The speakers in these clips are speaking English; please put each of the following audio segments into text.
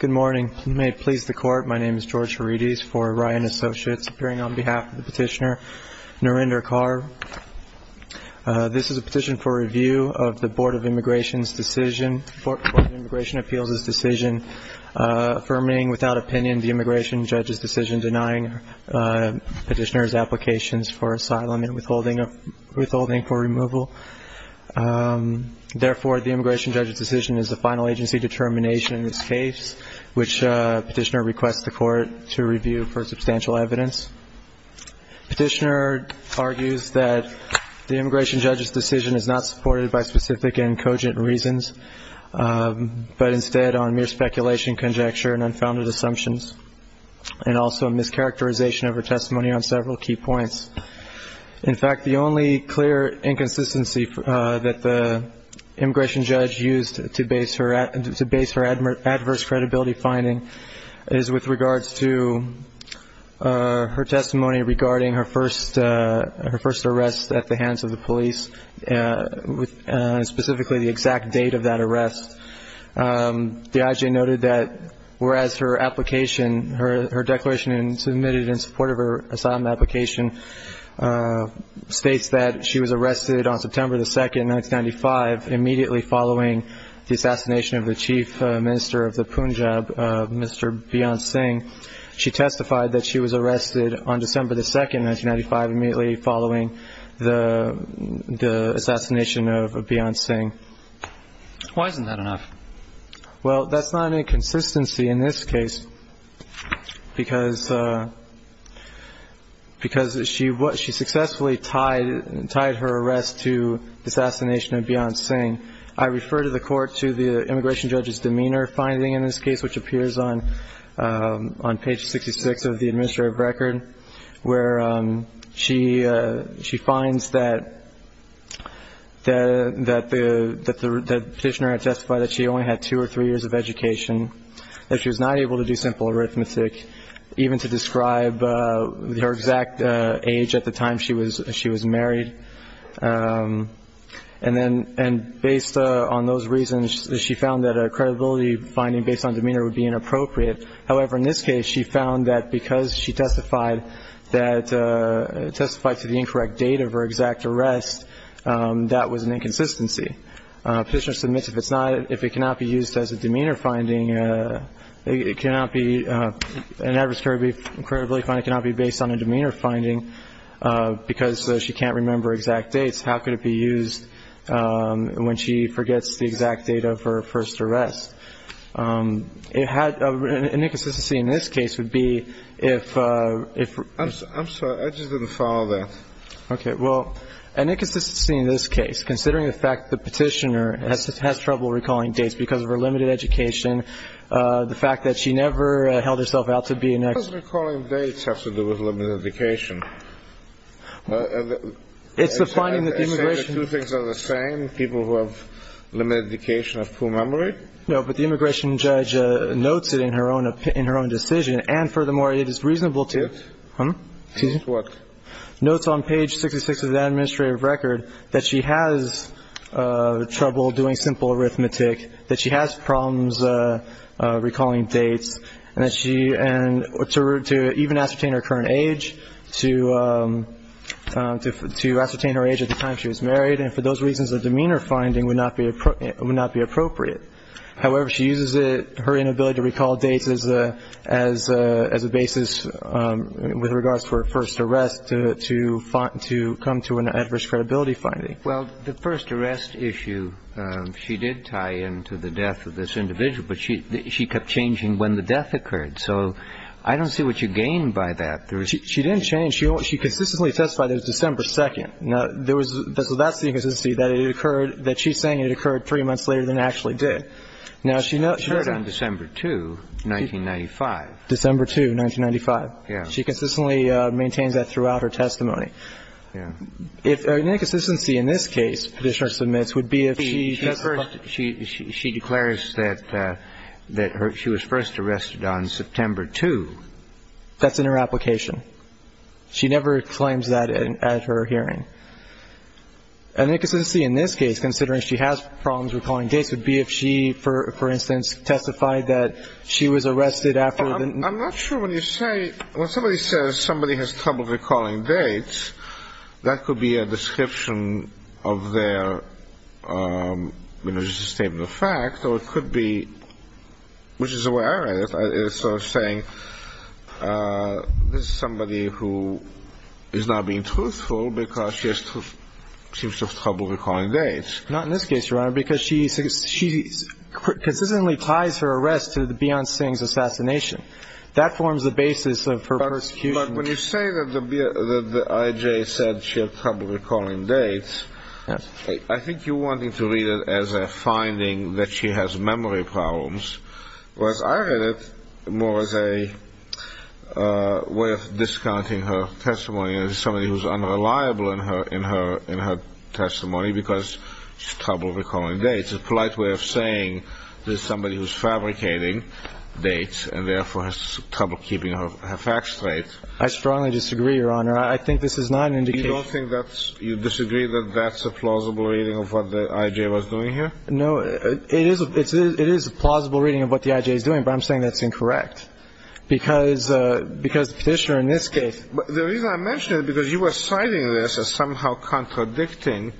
Good morning. May it please the Court, my name is George Harides for Ryan Associates, appearing on behalf of the petitioner, Narendra Kaur. This is a petition for review of the Board of Immigration Appeals' decision affirming, without opinion, the immigration judge's decision denying petitioner's applications for asylum and withholding for removal. Therefore, the immigration judge's decision is a final agency determination in this case, which petitioner requests the Court to review for substantial evidence. Petitioner argues that the immigration judge's decision is not supported by specific and cogent reasons, but instead on mere speculation, conjecture, and unfounded assumptions, and also a mischaracterization of her testimony on several key points. In fact, the only clear inconsistency that the immigration judge used to base her adverse credibility finding is with regards to her testimony regarding her first arrest at the Whereas her application, her declaration submitted in support of her asylum application, states that she was arrested on September 2, 1995, immediately following the assassination of the Chief Minister of the Punjab, Mr. Beyonce Singh. She testified that she was arrested on December 2, 1995, immediately following the assassination of Beyonce Singh. Why isn't that enough? Well, that's not an inconsistency in this case, because she successfully tied her arrest to the assassination of Beyonce Singh. I refer to the Court to the immigration judge's demeanor finding in this case, which appears on page 66 of the administrative record, where she finds that the petitioner had testified that she only had two or three years of education, that she was not able to do simple arithmetic, even to describe her exact age at the time she was married. And based on those reasons, she found that a credibility finding based on demeanor would be inappropriate. However, in this case, she found that because she testified to the incorrect date of her exact arrest, that was an inconsistency. Petitioner submits if it's not, if it cannot be used as a demeanor finding, it cannot be, an adverse credibility finding cannot be based on a demeanor finding, because she can't remember exact dates. How could it be used when she forgets the exact date of her first arrest? It had, an inconsistency in this case would be if, if... I'm sorry, I just didn't follow that. Okay. Well, an inconsistency in this case, considering the fact that the petitioner has trouble recalling dates because of her limited education, the fact that she never held herself out to be an... What does recalling dates have to do with limited education? It's the finding that the immigration... Essentially, two things are the same, people who have limited education have poor memory? No, but the immigration judge notes it in her own opinion, in her own decision, and furthermore, it is reasonable to... To what? Notes on page 66 of the administrative record that she has trouble doing simple arithmetic, that she has problems recalling dates, and that she, and to even ascertain her current age, to ascertain her age at the time she was married, and for those reasons, a demeanor finding would not be appropriate. However, she uses it, her inability to recall to come to an adverse credibility finding. Well, the first arrest issue, she did tie into the death of this individual, but she kept changing when the death occurred, so I don't see what you gain by that. She didn't change. She consistently testified that it was December 2nd. Now, there was... So that's the inconsistency, that it occurred, that she's saying it occurred three months later than it actually did. It did. Now, she notes... It occurred on December 2, 1995. December 2, 1995. Yeah. She consistently maintains that throughout her testimony. Yeah. An inconsistency in this case, Petitioner submits, would be if she... She declares that she was first arrested on September 2. That's in her application. She never claims that at her hearing. An inconsistency in this case, considering she has problems recalling dates, would be if she, for instance, testified that she was arrested after the... I'm not sure when you say... When somebody says somebody has trouble recalling dates, that could be a description of their, you know, just a statement of fact, or it could be, which is the way I read it, is sort of saying this is somebody who is not being truthful because she seems to have trouble recalling dates. Not in this case, Your Honor, because she consistently ties her arrest to the Beyonce Sings assassination. That forms the basis of her persecution. But when you say that the I.J. said she had trouble recalling dates, I think you're wanting to read it as a finding that she has memory problems, whereas I read it more as a way of discounting her testimony as somebody who's unreliable in her testimony because she has trouble recalling dates. A polite way of saying there's somebody who's fabricating dates and therefore has trouble keeping her facts straight. I strongly disagree, Your Honor. I think this is not an indication... You don't think that's... You disagree that that's a plausible reading of what the I.J. was doing here? No, it is a plausible reading of what the I.J. is doing, but I'm saying that's incorrect because the petitioner in this case... The reason I mention it is because you are citing this as somehow contradicting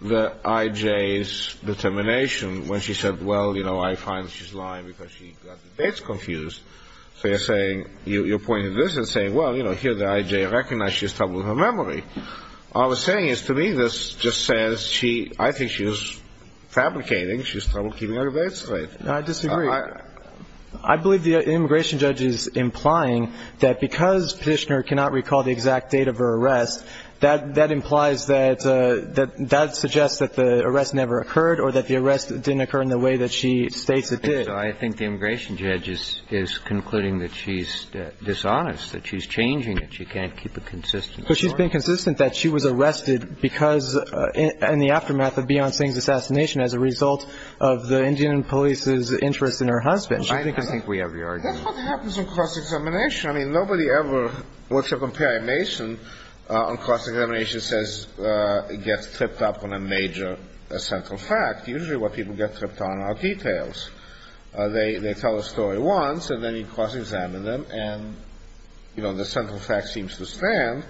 the I.J.'s determination when she said, well, you know, I find she's lying because she got the dates confused. So you're saying... You're pointing this and saying, well, you know, here the I.J. recognized she has trouble with her memory. All I'm saying is to me this just says she... I think she was fabricating she's trouble keeping her dates straight. I disagree. I believe the immigration judge is implying that because petitioner cannot recall the exact date of her arrest, that implies that that suggests that the arrest never occurred or that the arrest didn't occur in the way that she states it did. So I think the immigration judge is concluding that she's dishonest, that she's changing it. She can't keep it consistent. But she's been consistent that she was arrested because in the aftermath of Beyond Singh's assassination as a result of the Indian police's interest in her husband. I think we have your argument. That's what happens in cross-examination. Nobody ever... What's your comparison on cross-examination says gets tripped up on a major central fact. Usually what people get tripped on are details. They tell a story once and then you cross-examine them and, you know, the central fact seems to stand.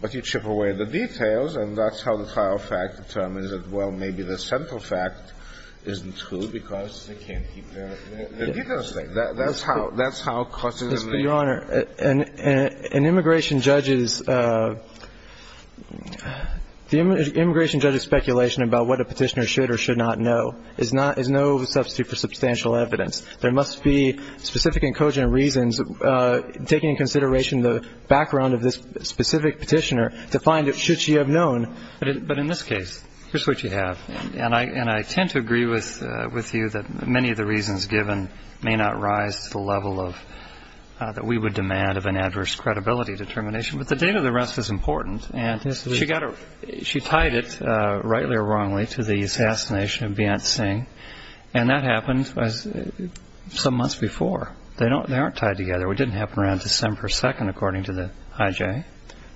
But you chip away at the details and that's how the trial fact determines that, well, maybe the central fact isn't true because they can't keep their details straight. That's how cross-examination... Your Honor, an immigration judge's speculation about what a petitioner should or should not know is no substitute for substantial evidence. There must be specific and cogent reasons taking into consideration the background of this specific petitioner to find out should she have known. But in this case, here's what you have. And I tend to agree with you that many of the reasons given may not rise to the level that we would demand of an adverse credibility determination. But the date of the arrest is important. And she tied it, rightly or wrongly, to the assassination of Beyonce Singh. And that happened some months before. They aren't tied together. It didn't happen around December 2nd, according to the IJ.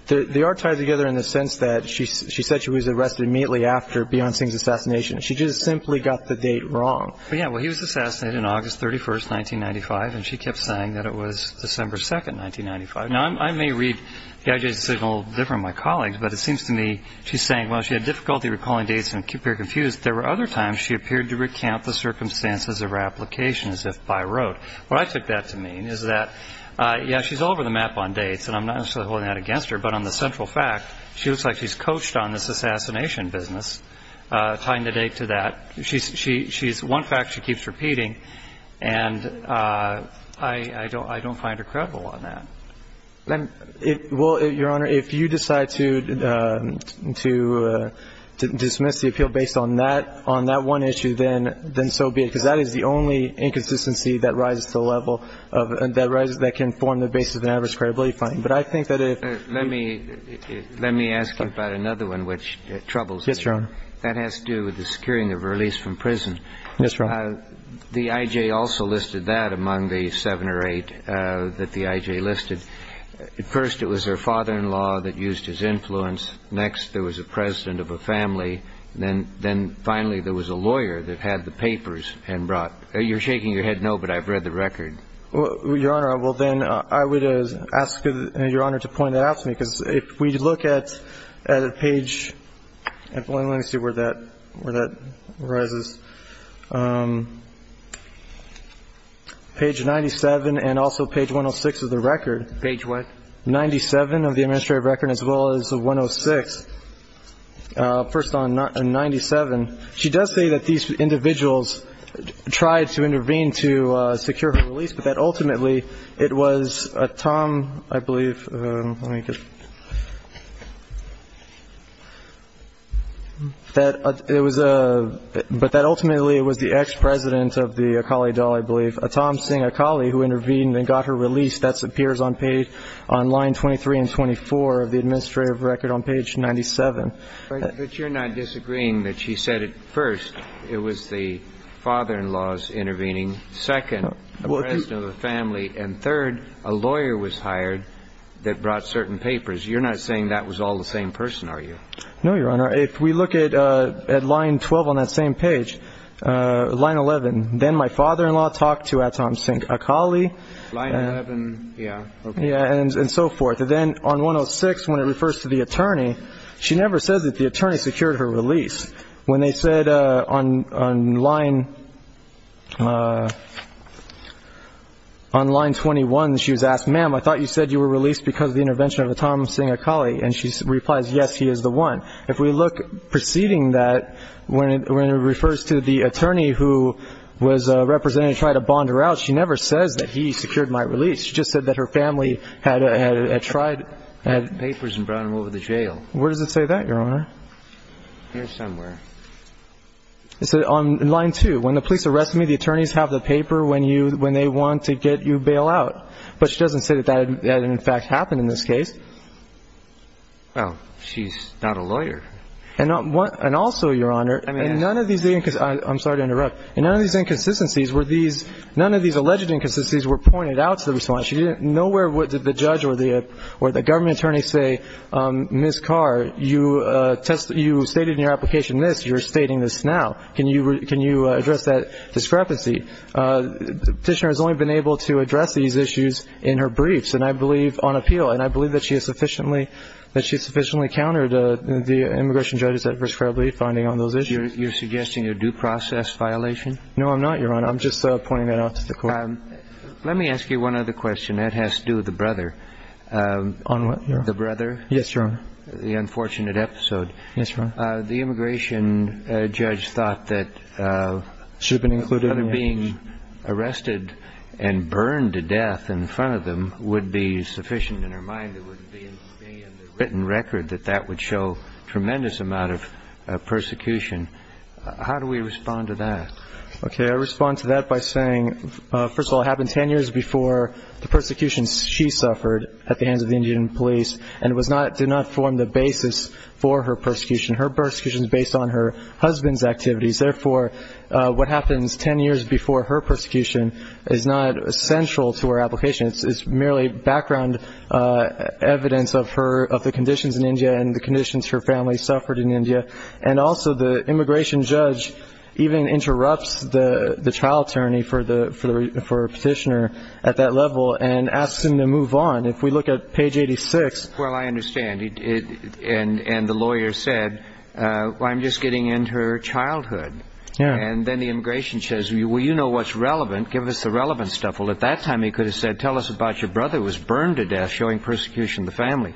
They are tied together in the sense that she said she was arrested immediately after Beyonce's assassination. She just simply got the date wrong. Yeah, well, he was assassinated on August 31st, 1995. And she kept saying that it was December 2nd, 1995. Now, I may read the IJ's decision a little different than my colleagues. But it seems to me she's saying, while she had difficulty recalling dates and appeared confused, there were other times she appeared to recount the circumstances of her application as if by rote. What I took that to mean is that, yeah, she's all over the map on dates. And I'm not necessarily holding that against her. But on the central fact, she looks like she's coached on this assassination business, tying the date to that. She's one fact she keeps repeating. And I don't find her credible on that. Well, Your Honor, if you decide to dismiss the appeal based on that one issue, then so be it. Because that is the only inconsistency that rises to the level of that can form the basis of an average credibility finding. But I think that if you... Yes, Your Honor. That has to do with the securing of release from prison. Yes, Your Honor. The IJ also listed that among the seven or eight that the IJ listed. First, it was her father-in-law that used his influence. Next, there was a president of a family. Then finally, there was a lawyer that had the papers and brought... You're shaking your head no, but I've read the record. Your Honor, well, then I would ask Your Honor to point that out to me. If we look at page... Let me see where that arises. Page 97 and also page 106 of the record. Page what? 97 of the administrative record as well as 106. First on 97, she does say that these individuals tried to intervene to secure her release, but that ultimately it was Tom, I believe. Let me just... But that ultimately it was the ex-president of the Akali Daul, I believe. Tom Singh Akali, who intervened and got her released. That appears on page... On line 23 and 24 of the administrative record on page 97. But you're not disagreeing that she said it first. It was the father-in-law's intervening. Second, a president of a family. And third, a lawyer was hired that brought certain papers. You're not saying that was all the same person, are you? No, Your Honor. If we look at line 12 on that same page. Line 11. Then my father-in-law talked to Tom Singh Akali. Line 11, yeah. Yeah, and so forth. Then on 106, when it refers to the attorney, she never says that the attorney secured her release. When they said on line... On line 21, she was asked, ma'am, I thought you said you were released because of the intervention of Tom Singh Akali. And she replies, yes, he is the one. If we look preceding that, when it refers to the attorney, who was representing to try to bond her out, she never says that he secured my release. She just said that her family had tried... Had papers and brought him over the jail. Where does it say that, Your Honor? Here somewhere. It said on line 2, when the police arrest me, the attorneys have the paper when they want to get you bailed out. But she doesn't say that that had in fact happened in this case. Well, she's not a lawyer. And also, Your Honor, and none of these... I'm sorry to interrupt. And none of these inconsistencies were these... None of these alleged inconsistencies were pointed out to the response. She didn't know where the judge or the government attorney say, Ms. Carr, you stated in your application this. You're stating this now. Can you address that discrepancy? Petitioner has only been able to address these issues in her briefs, and I believe on appeal. And I believe that she has sufficiently... That she has sufficiently countered the immigration judge's adverse credibility finding on those issues. You're suggesting a due process violation? No, I'm not, Your Honor. I'm just pointing that out to the court. Let me ask you one other question. That has to do with the brother. On what? The brother? Yes, Your Honor. The unfortunate episode. Yes, Your Honor. The immigration judge thought that... Should have been included in the evidence. That her being arrested and burned to death in front of them would be sufficient in her mind. It would be in the written record that that would show tremendous amount of persecution. How do we respond to that? Okay, I respond to that by saying, first of all, it happened 10 years before the persecutions she suffered at the hands of the Indian police, and it did not form the basis for her persecution. Her persecution is based on her husband's activities. Therefore, what happens 10 years before her persecution is not central to her application. It's merely background evidence of the conditions in India and the conditions her family suffered in India. And also, the immigration judge even interrupts the trial attorney for the petitioner at that level and asks him to move on if we look at page 86. Well, I understand. And the lawyer said, I'm just getting into her childhood. Yeah. And then the immigration says, well, you know what's relevant. Give us the relevant stuff. Well, at that time, he could have said, tell us about your brother who was burned to death showing persecution of the family.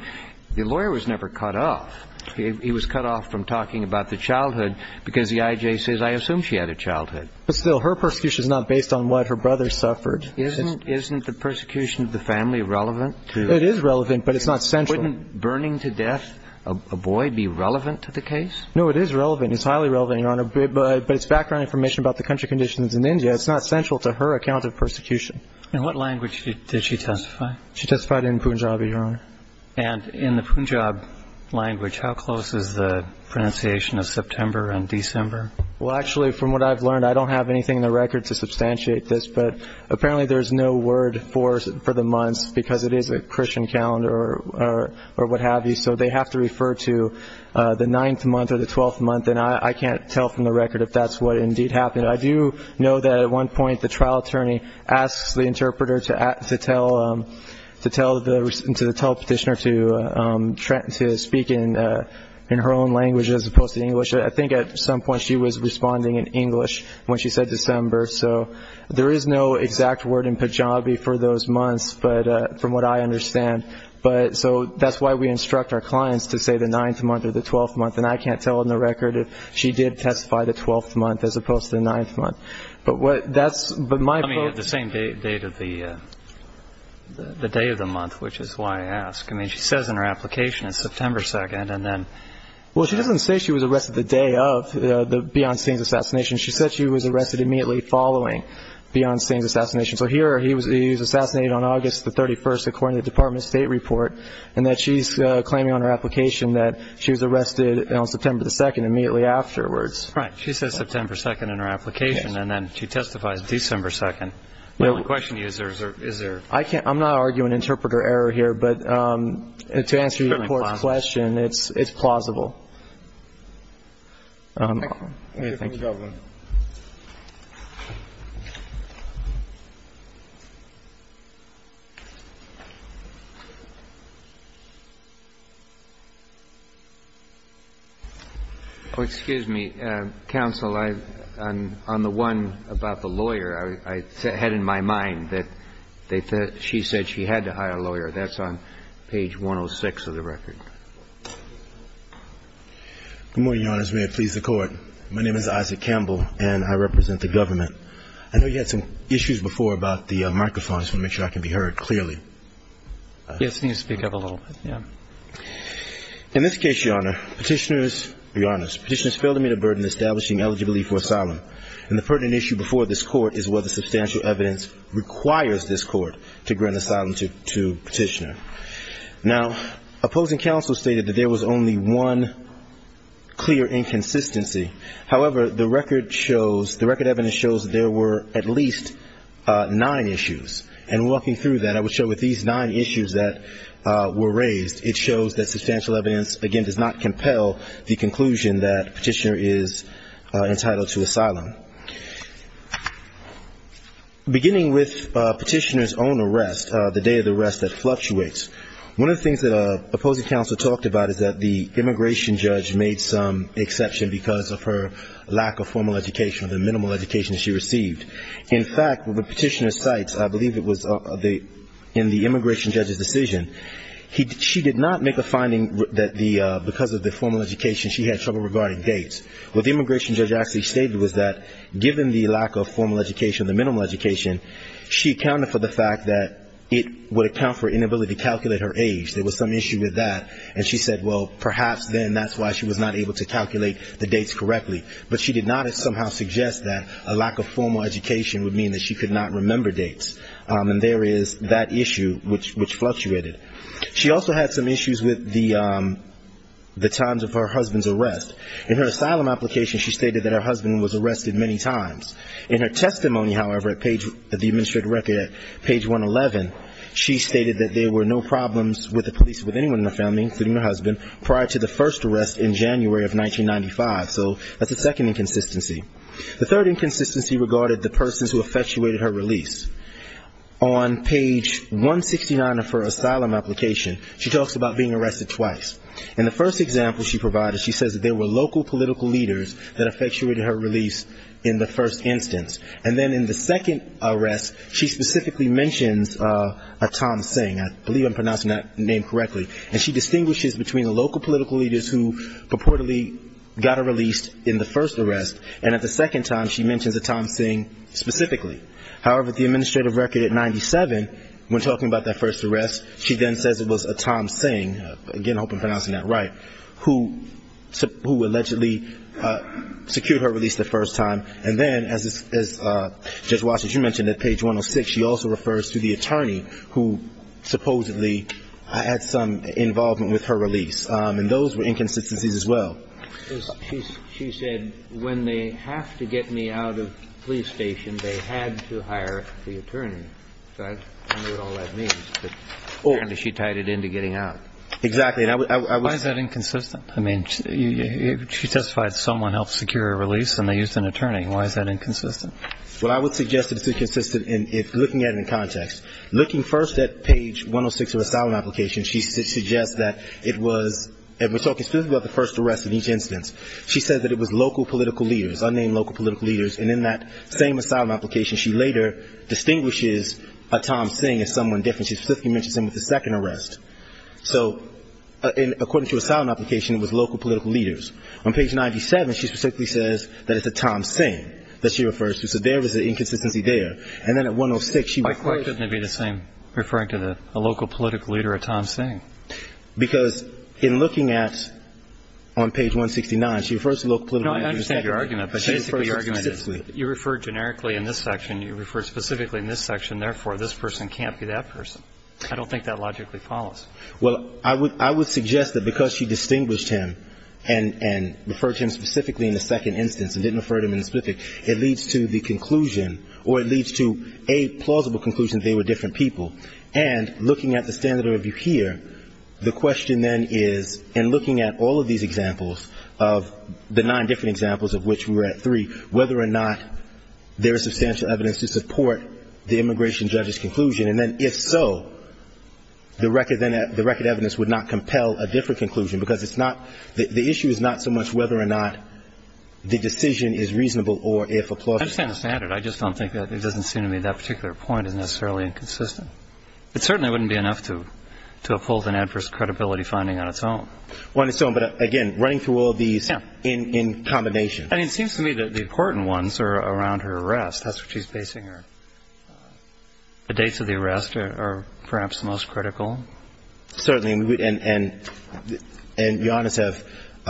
The lawyer was never cut off. He was cut off from talking about the childhood because the IJ says, I assume she had a childhood. But still, her persecution is not based on what her brother suffered. Isn't the persecution of the family relevant? It is relevant, but it's not central. Wouldn't burning to death a boy be relevant to the case? No, it is relevant. It's highly relevant, Your Honor. But it's background information about the country conditions in India. It's not central to her account of persecution. In what language did she testify? She testified in Punjabi, Your Honor. And in the Punjab language, how close is the pronunciation of September and December? Well, actually, from what I've learned, I don't have anything in the record to substantiate this. Apparently, there's no word for the months because it is a Christian calendar or what have you. So they have to refer to the ninth month or the 12th month. And I can't tell from the record if that's what indeed happened. I do know that at one point, the trial attorney asks the interpreter to tell the petitioner to speak in her own language as opposed to English. I think at some point, she was responding in English when she said December. So there is no exact word in Punjabi for those months from what I understand. But so that's why we instruct our clients to say the ninth month or the 12th month. And I can't tell in the record if she did testify the 12th month as opposed to the ninth month. But what that's... But the same date of the day of the month, which is why I ask. I mean, she says in her application it's September 2nd. And then... Well, she doesn't say she was arrested the day of the Beyoncé assassination. She said she was arrested immediately following Beyoncé's assassination. So here, he was assassinated on August the 31st, according to the Department of State report. And that she's claiming on her application that she was arrested on September 2nd, immediately afterwards. Right. She says September 2nd in her application. And then she testifies December 2nd. My only question is, is there... I can't... I'm not arguing interpreter error here. But to answer your report's question, it's plausible. Thank you. Excuse me, counsel, on the one about the lawyer, I had in my mind that she said she had to hire a lawyer. That's on page 106 of the record. Good morning, Your Honors. May it please the Court. My name is Isaac Campbell, and I represent the government. I know you had some issues before about the microphone. I just want to make sure I can be heard clearly. Yes, you need to speak up a little bit, yeah. In this case, Your Honor, petitioners... Your Honors, petitioners failed to meet a burden establishing eligibility for asylum. And the pertinent issue before this Court is whether substantial evidence requires this Court to grant asylum to a petitioner. Now, opposing counsel stated that there was only one clear inconsistency. However, the record shows... The record evidence shows there were at least nine issues. And walking through that, I would show with these nine issues that were raised, it shows that substantial evidence, again, does not compel the conclusion that petitioner is entitled to asylum. Now, beginning with petitioner's own arrest, the day of the arrest that fluctuates, one of the things that opposing counsel talked about is that the immigration judge made some exception because of her lack of formal education, the minimal education she received. In fact, what the petitioner cites, I believe it was in the immigration judge's decision, she did not make a finding that because of the formal education, she had trouble regarding dates. What the immigration judge actually stated was that given the lack of formal education, the minimal education, she accounted for the fact that it would account for inability to calculate her age. There was some issue with that. And she said, well, perhaps then that's why she was not able to calculate the dates correctly. But she did not somehow suggest that a lack of formal education would mean that she could not remember dates. And there is that issue which fluctuated. She also had some issues with the times of her husband's arrest. In her asylum application, she stated that her husband was arrested many times. In her testimony, however, at the administrative record at page 111, she stated that there were no problems with the police with anyone in the family, including her husband, prior to the first arrest in January of 1995. So that's the second inconsistency. The third inconsistency regarded the persons who effectuated her release. On page 169 of her asylum application, she talks about being arrested twice. In the first example she provided, she says that there were local political leaders that effectuated her release in the first instance. And then in the second arrest, she specifically mentions a Tom Singh. I believe I'm pronouncing that name correctly. And she distinguishes between the local political leaders who purportedly got her released in the first arrest. And at the second time, she mentions a Tom Singh specifically. However, the administrative record at 97, when talking about that first arrest, she then says it was a Tom Singh. Again, I hope I'm pronouncing that right. Who allegedly secured her release the first time. And then, as Judge Watson, you mentioned at page 106, she also refers to the attorney who supposedly had some involvement with her release. And those were inconsistencies as well. She said, when they have to get me out of the police station, they had to hire the attorney. So I don't know what all that means. She tied it into getting out. Exactly. Why is that inconsistent? I mean, she testified someone helped secure a release and they used an attorney. Why is that inconsistent? Well, I would suggest it's inconsistent in looking at it in context. Looking first at page 106 of the asylum application, she suggests that it was, and we're talking specifically about the first arrest in each instance. She said that it was local political leaders, unnamed local political leaders. And in that same asylum application, she later distinguishes a Tom Singh as someone different. She specifically mentions him with the second arrest. So according to asylum application, it was local political leaders. On page 97, she specifically says that it's a Tom Singh that she refers to. So there is an inconsistency there. And then at 106, she refers- Why couldn't it be the same, referring to a local political leader, a Tom Singh? Because in looking at, on page 169, she refers to local political- No, I understand your argument. But basically, your argument is, you refer generically in this section. You refer specifically in this section. Therefore, this person can't be that person. I don't think that logically follows. Well, I would suggest that because she distinguished him and referred to him specifically in the second instance and didn't refer to him in the specific, it leads to the conclusion or it leads to a plausible conclusion that they were different people. And looking at the standard of review here, the question then is, in looking at all of these examples of the nine different examples of which we were at three, whether or not there is substantial evidence to support the immigration judge's conclusion. And then if so, the record evidence would not compel a different conclusion, because it's not- the issue is not so much whether or not the decision is reasonable or if a plausible- I understand the standard. I just don't think that- it doesn't seem to me that particular point is necessarily inconsistent. It certainly wouldn't be enough to uphold an adverse credibility finding on its own. On its own. But again, running through all of these in combination. And it seems to me that the important ones are around her arrest. That's what she's basing her- the dates of the arrest are perhaps the most critical. Certainly. And the honest have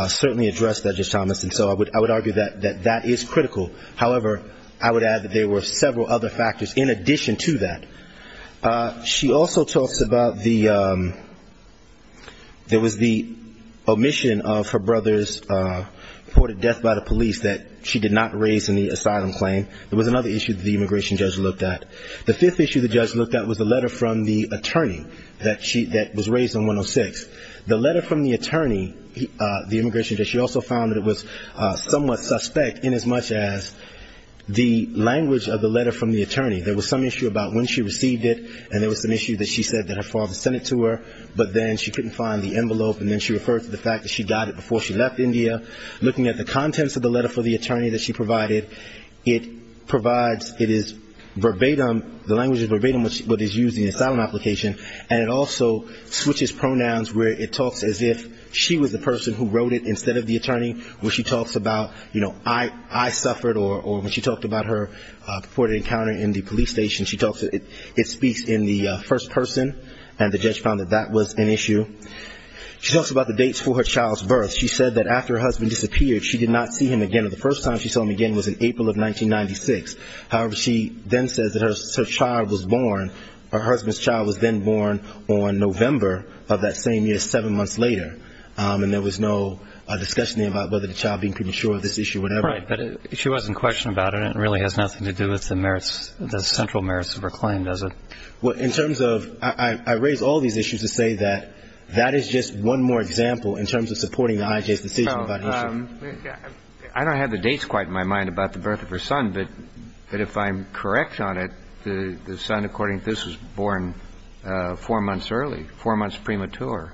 certainly addressed that, Judge Thomas. And so I would argue that that is critical. However, I would add that there were several other factors in addition to that. She also talks about the- there was the omission of her brother's reported death by the police that she did not raise in the asylum claim. There was another issue that the immigration judge looked at. The fifth issue the judge looked at was the letter from the attorney that she- that was raised on 106. The letter from the attorney, the immigration judge, she also found that it was somewhat suspect inasmuch as the language of the letter from the attorney. There was some issue about when she received it. And there was an issue that she said that her father sent it to her. But then she couldn't find the envelope. And then she referred to the fact that she got it before she left India. Looking at the contents of the letter from the attorney that she provided, it provides- it is verbatim- the language is verbatim what is used in the asylum application. And it also switches pronouns where it talks as if she was the person who wrote it instead of the attorney, where she talks about, you know, I suffered or when she talked about her reported encounter in the police station, she talks- it speaks in the first person. And the judge found that that was an issue. She talks about the dates for her child's birth. She said that after her husband disappeared, she did not see him again. And the first time she saw him again was in April of 1996. However, she then says that her child was born- her husband's child was then born on November of that same year, seven months later. And there was no discussion about whether the child being premature or this issue or whatever. Right. But she wasn't questioned about it. It really has nothing to do with the merits- the central merits of her claim, does it? Well, in terms of- I raise all these issues to say that that is just one more example in terms of supporting the IJ's decision about the issue. I don't have the dates quite in my mind about the birth of her son, but if I'm correct on it, the son, according to this, was born four months early, four months premature.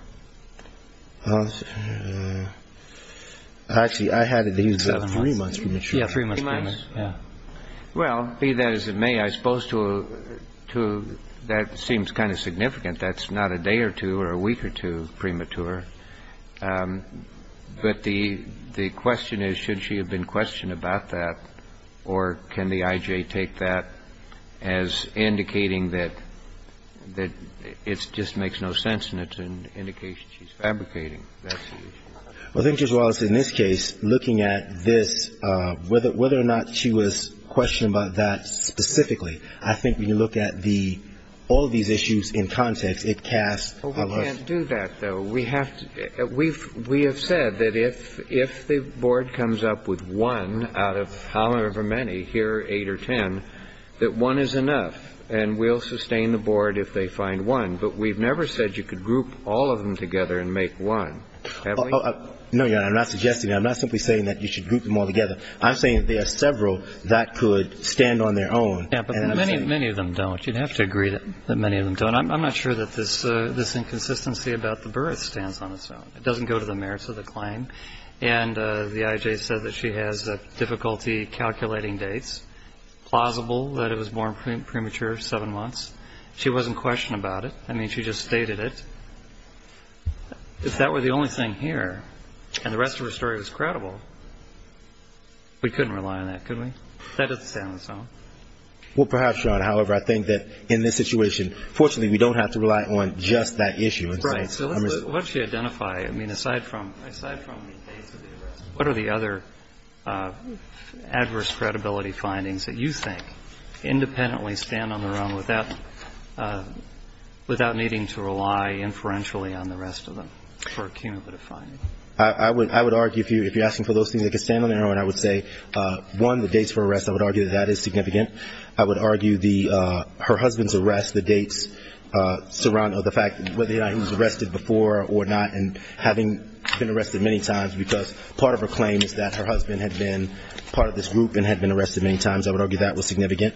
Actually, I have it that he was born three months premature. Yeah, three months premature, yeah. Well, be that as it may, I suppose to- that seems kind of significant. That's not a day or two or a week or two premature. But the question is, should she have been questioned about that, or can the IJ take that as indicating that it just makes no sense and it's an indication she's fabricating that situation? Well, I think, Judge Wallace, in this case, looking at this, whether or not she was questioned about that specifically, I think when you look at the- all of these issues in context, it casts- Well, we can't do that, though. We have said that if the board comes up with one out of however many, here eight or ten, that one is enough, and we'll sustain the board if they find one. But we've never said you could group all of them together and make one, have we? No, Your Honor, I'm not suggesting that. I'm not simply saying that you should group them all together. I'm saying there are several that could stand on their own. Yeah, but many of them don't. You'd have to agree that many of them don't. I'm not sure that this inconsistency about the birth stands on its own. It doesn't go to the merits of the claim. And the IJ said that she has difficulty calculating dates, plausible that it was born premature, seven months. She wasn't questioned about it. I mean, she just stated it. If that were the only thing here and the rest of her story was credible, we couldn't rely on that, could we? That doesn't stand on its own. Well, perhaps, Your Honor. However, I think that in this situation, fortunately, we don't have to rely on just that issue. Right. So let's just identify. I mean, aside from the dates of the arrest, what are the other adverse credibility findings that you think independently stand on their own without needing to rely inferentially on the rest of them for a cumulative finding? I would argue, if you're asking for those things that could stand on their own, I would argue that that is significant. I would argue her husband's arrest, the dates surrounding the fact whether or not he was arrested before or not, and having been arrested many times because part of her claim is that her husband had been part of this group and had been arrested many times. I would argue that was significant.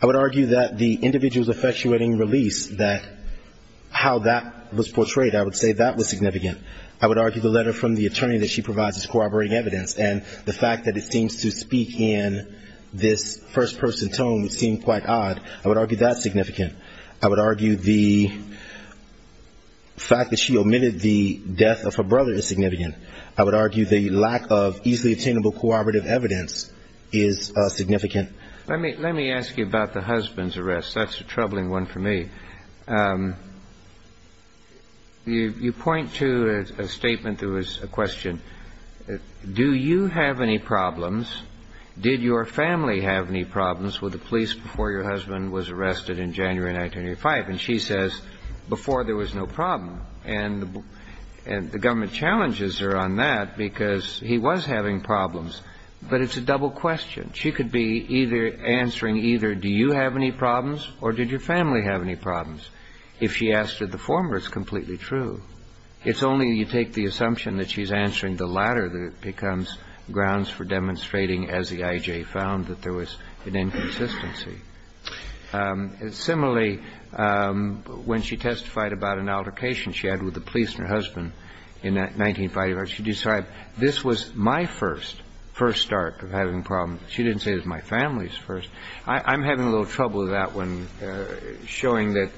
I would argue that the individual's effectuating release, that how that was portrayed, I would say that was significant. I would argue the letter from the attorney that she provides is corroborating evidence, and the fact that it seems to speak in this first-person tone would seem quite odd. I would argue that's significant. I would argue the fact that she omitted the death of her brother is significant. I would argue the lack of easily attainable corroborative evidence is significant. Let me ask you about the husband's arrest. That's a troubling one for me. You point to a statement that was a question, do you have any problems, did your family have any problems with the police before your husband was arrested in January 1985? And she says, before there was no problem. And the government challenges her on that because he was having problems. But it's a double question. She could be either answering either do you have any problems or did your family have any problems. If she asked her the former, it's completely true. It's only you take the assumption that she's answering the latter that it becomes grounds for demonstrating, as the IJ found, that there was an inconsistency. Similarly, when she testified about an altercation she had with the police and her husband in 1985, she described, this was my first, first start of having problems. She didn't say it was my family's first. I'm having a little trouble with that one, showing that,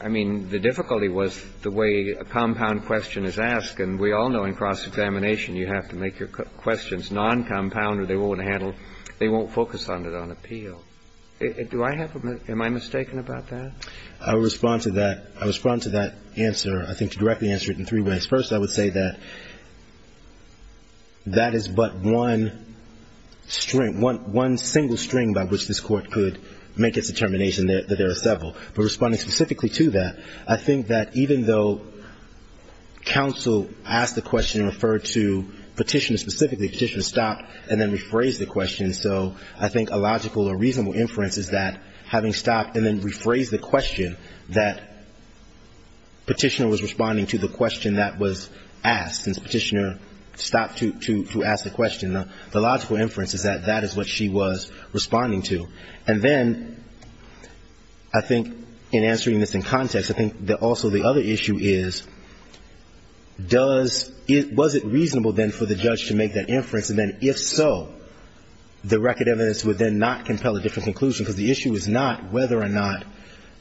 I mean, the difficulty was the way a compound question is asked. And we all know in cross-examination you have to make your questions non-compound or they won't handle, they won't focus on it on appeal. Do I have, am I mistaken about that? I'll respond to that. I respond to that answer, I think, to directly answer it in three ways. First, I would say that that is but one string, one single string by which this court could make its determination that there are several. But responding specifically to that, I think that even though counsel asked the question and referred to Petitioner specifically, Petitioner stopped and then rephrased the question, so I think a logical or reasonable inference is that having stopped and then rephrased the question, that Petitioner was responding to the question that was asked. Since Petitioner stopped to ask the question, the logical inference is that that is what she was responding to. And then I think in answering this in context, I think that also the other issue is does, was it reasonable then for the judge to make that inference and then if so, the record evidence would then not compel a different conclusion because the issue is not whether or not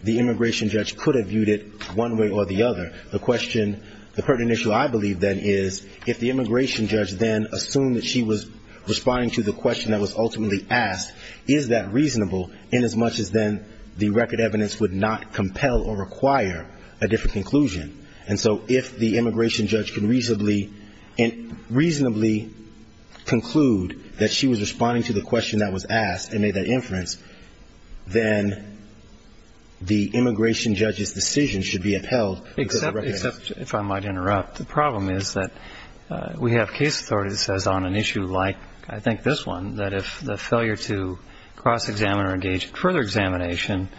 the immigration judge could have viewed it one way or the other. The question, the pertinent issue I believe then is if the immigration judge then assumed that she was responding to the question that was ultimately asked, is that reasonable inasmuch as then the record evidence would not compel or require a different conclusion. And so if the immigration judge can reasonably conclude that she was responding to the question that was asked and made that inference, then the immigration judge's decision should be upheld. Except, if I might interrupt, the problem is that we have case authority that says on an issue like I think this one, that if the failure to cross examine or engage further examination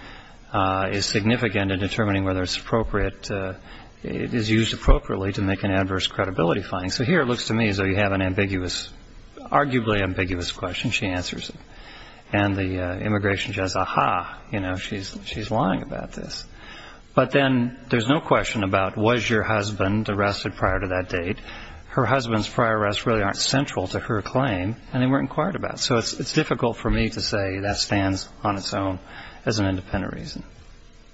is significant in determining whether it's appropriate, it is used appropriately to make an adverse credibility finding. So here it looks to me as though you have an ambiguous, arguably ambiguous question. She answers it. And the immigration judge, aha, you know, she's lying about this. But then there's no question about was your husband arrested prior to that date. Her husband's prior arrests really aren't central to her claim. And they weren't inquired about. So it's difficult for me to say that stands on its own as an independent reason.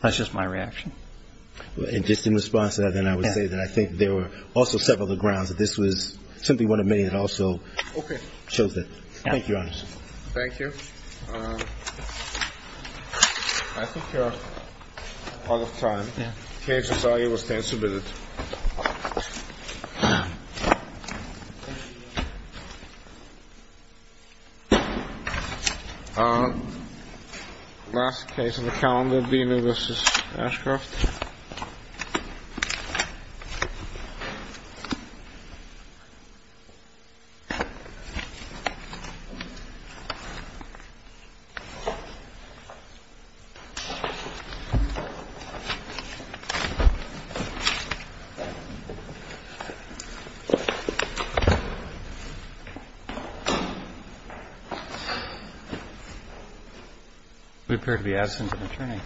That's just my reaction. And just in response to that, then I would say that I think there were also several other grounds that this was simply one of many that also chose that. Thank you, Your Honor. Thank you. I think you're out of time. Yeah. The case is already being submitted. Last case on the calendar, Dino v. Ashcroft. We appear to be absent in the training.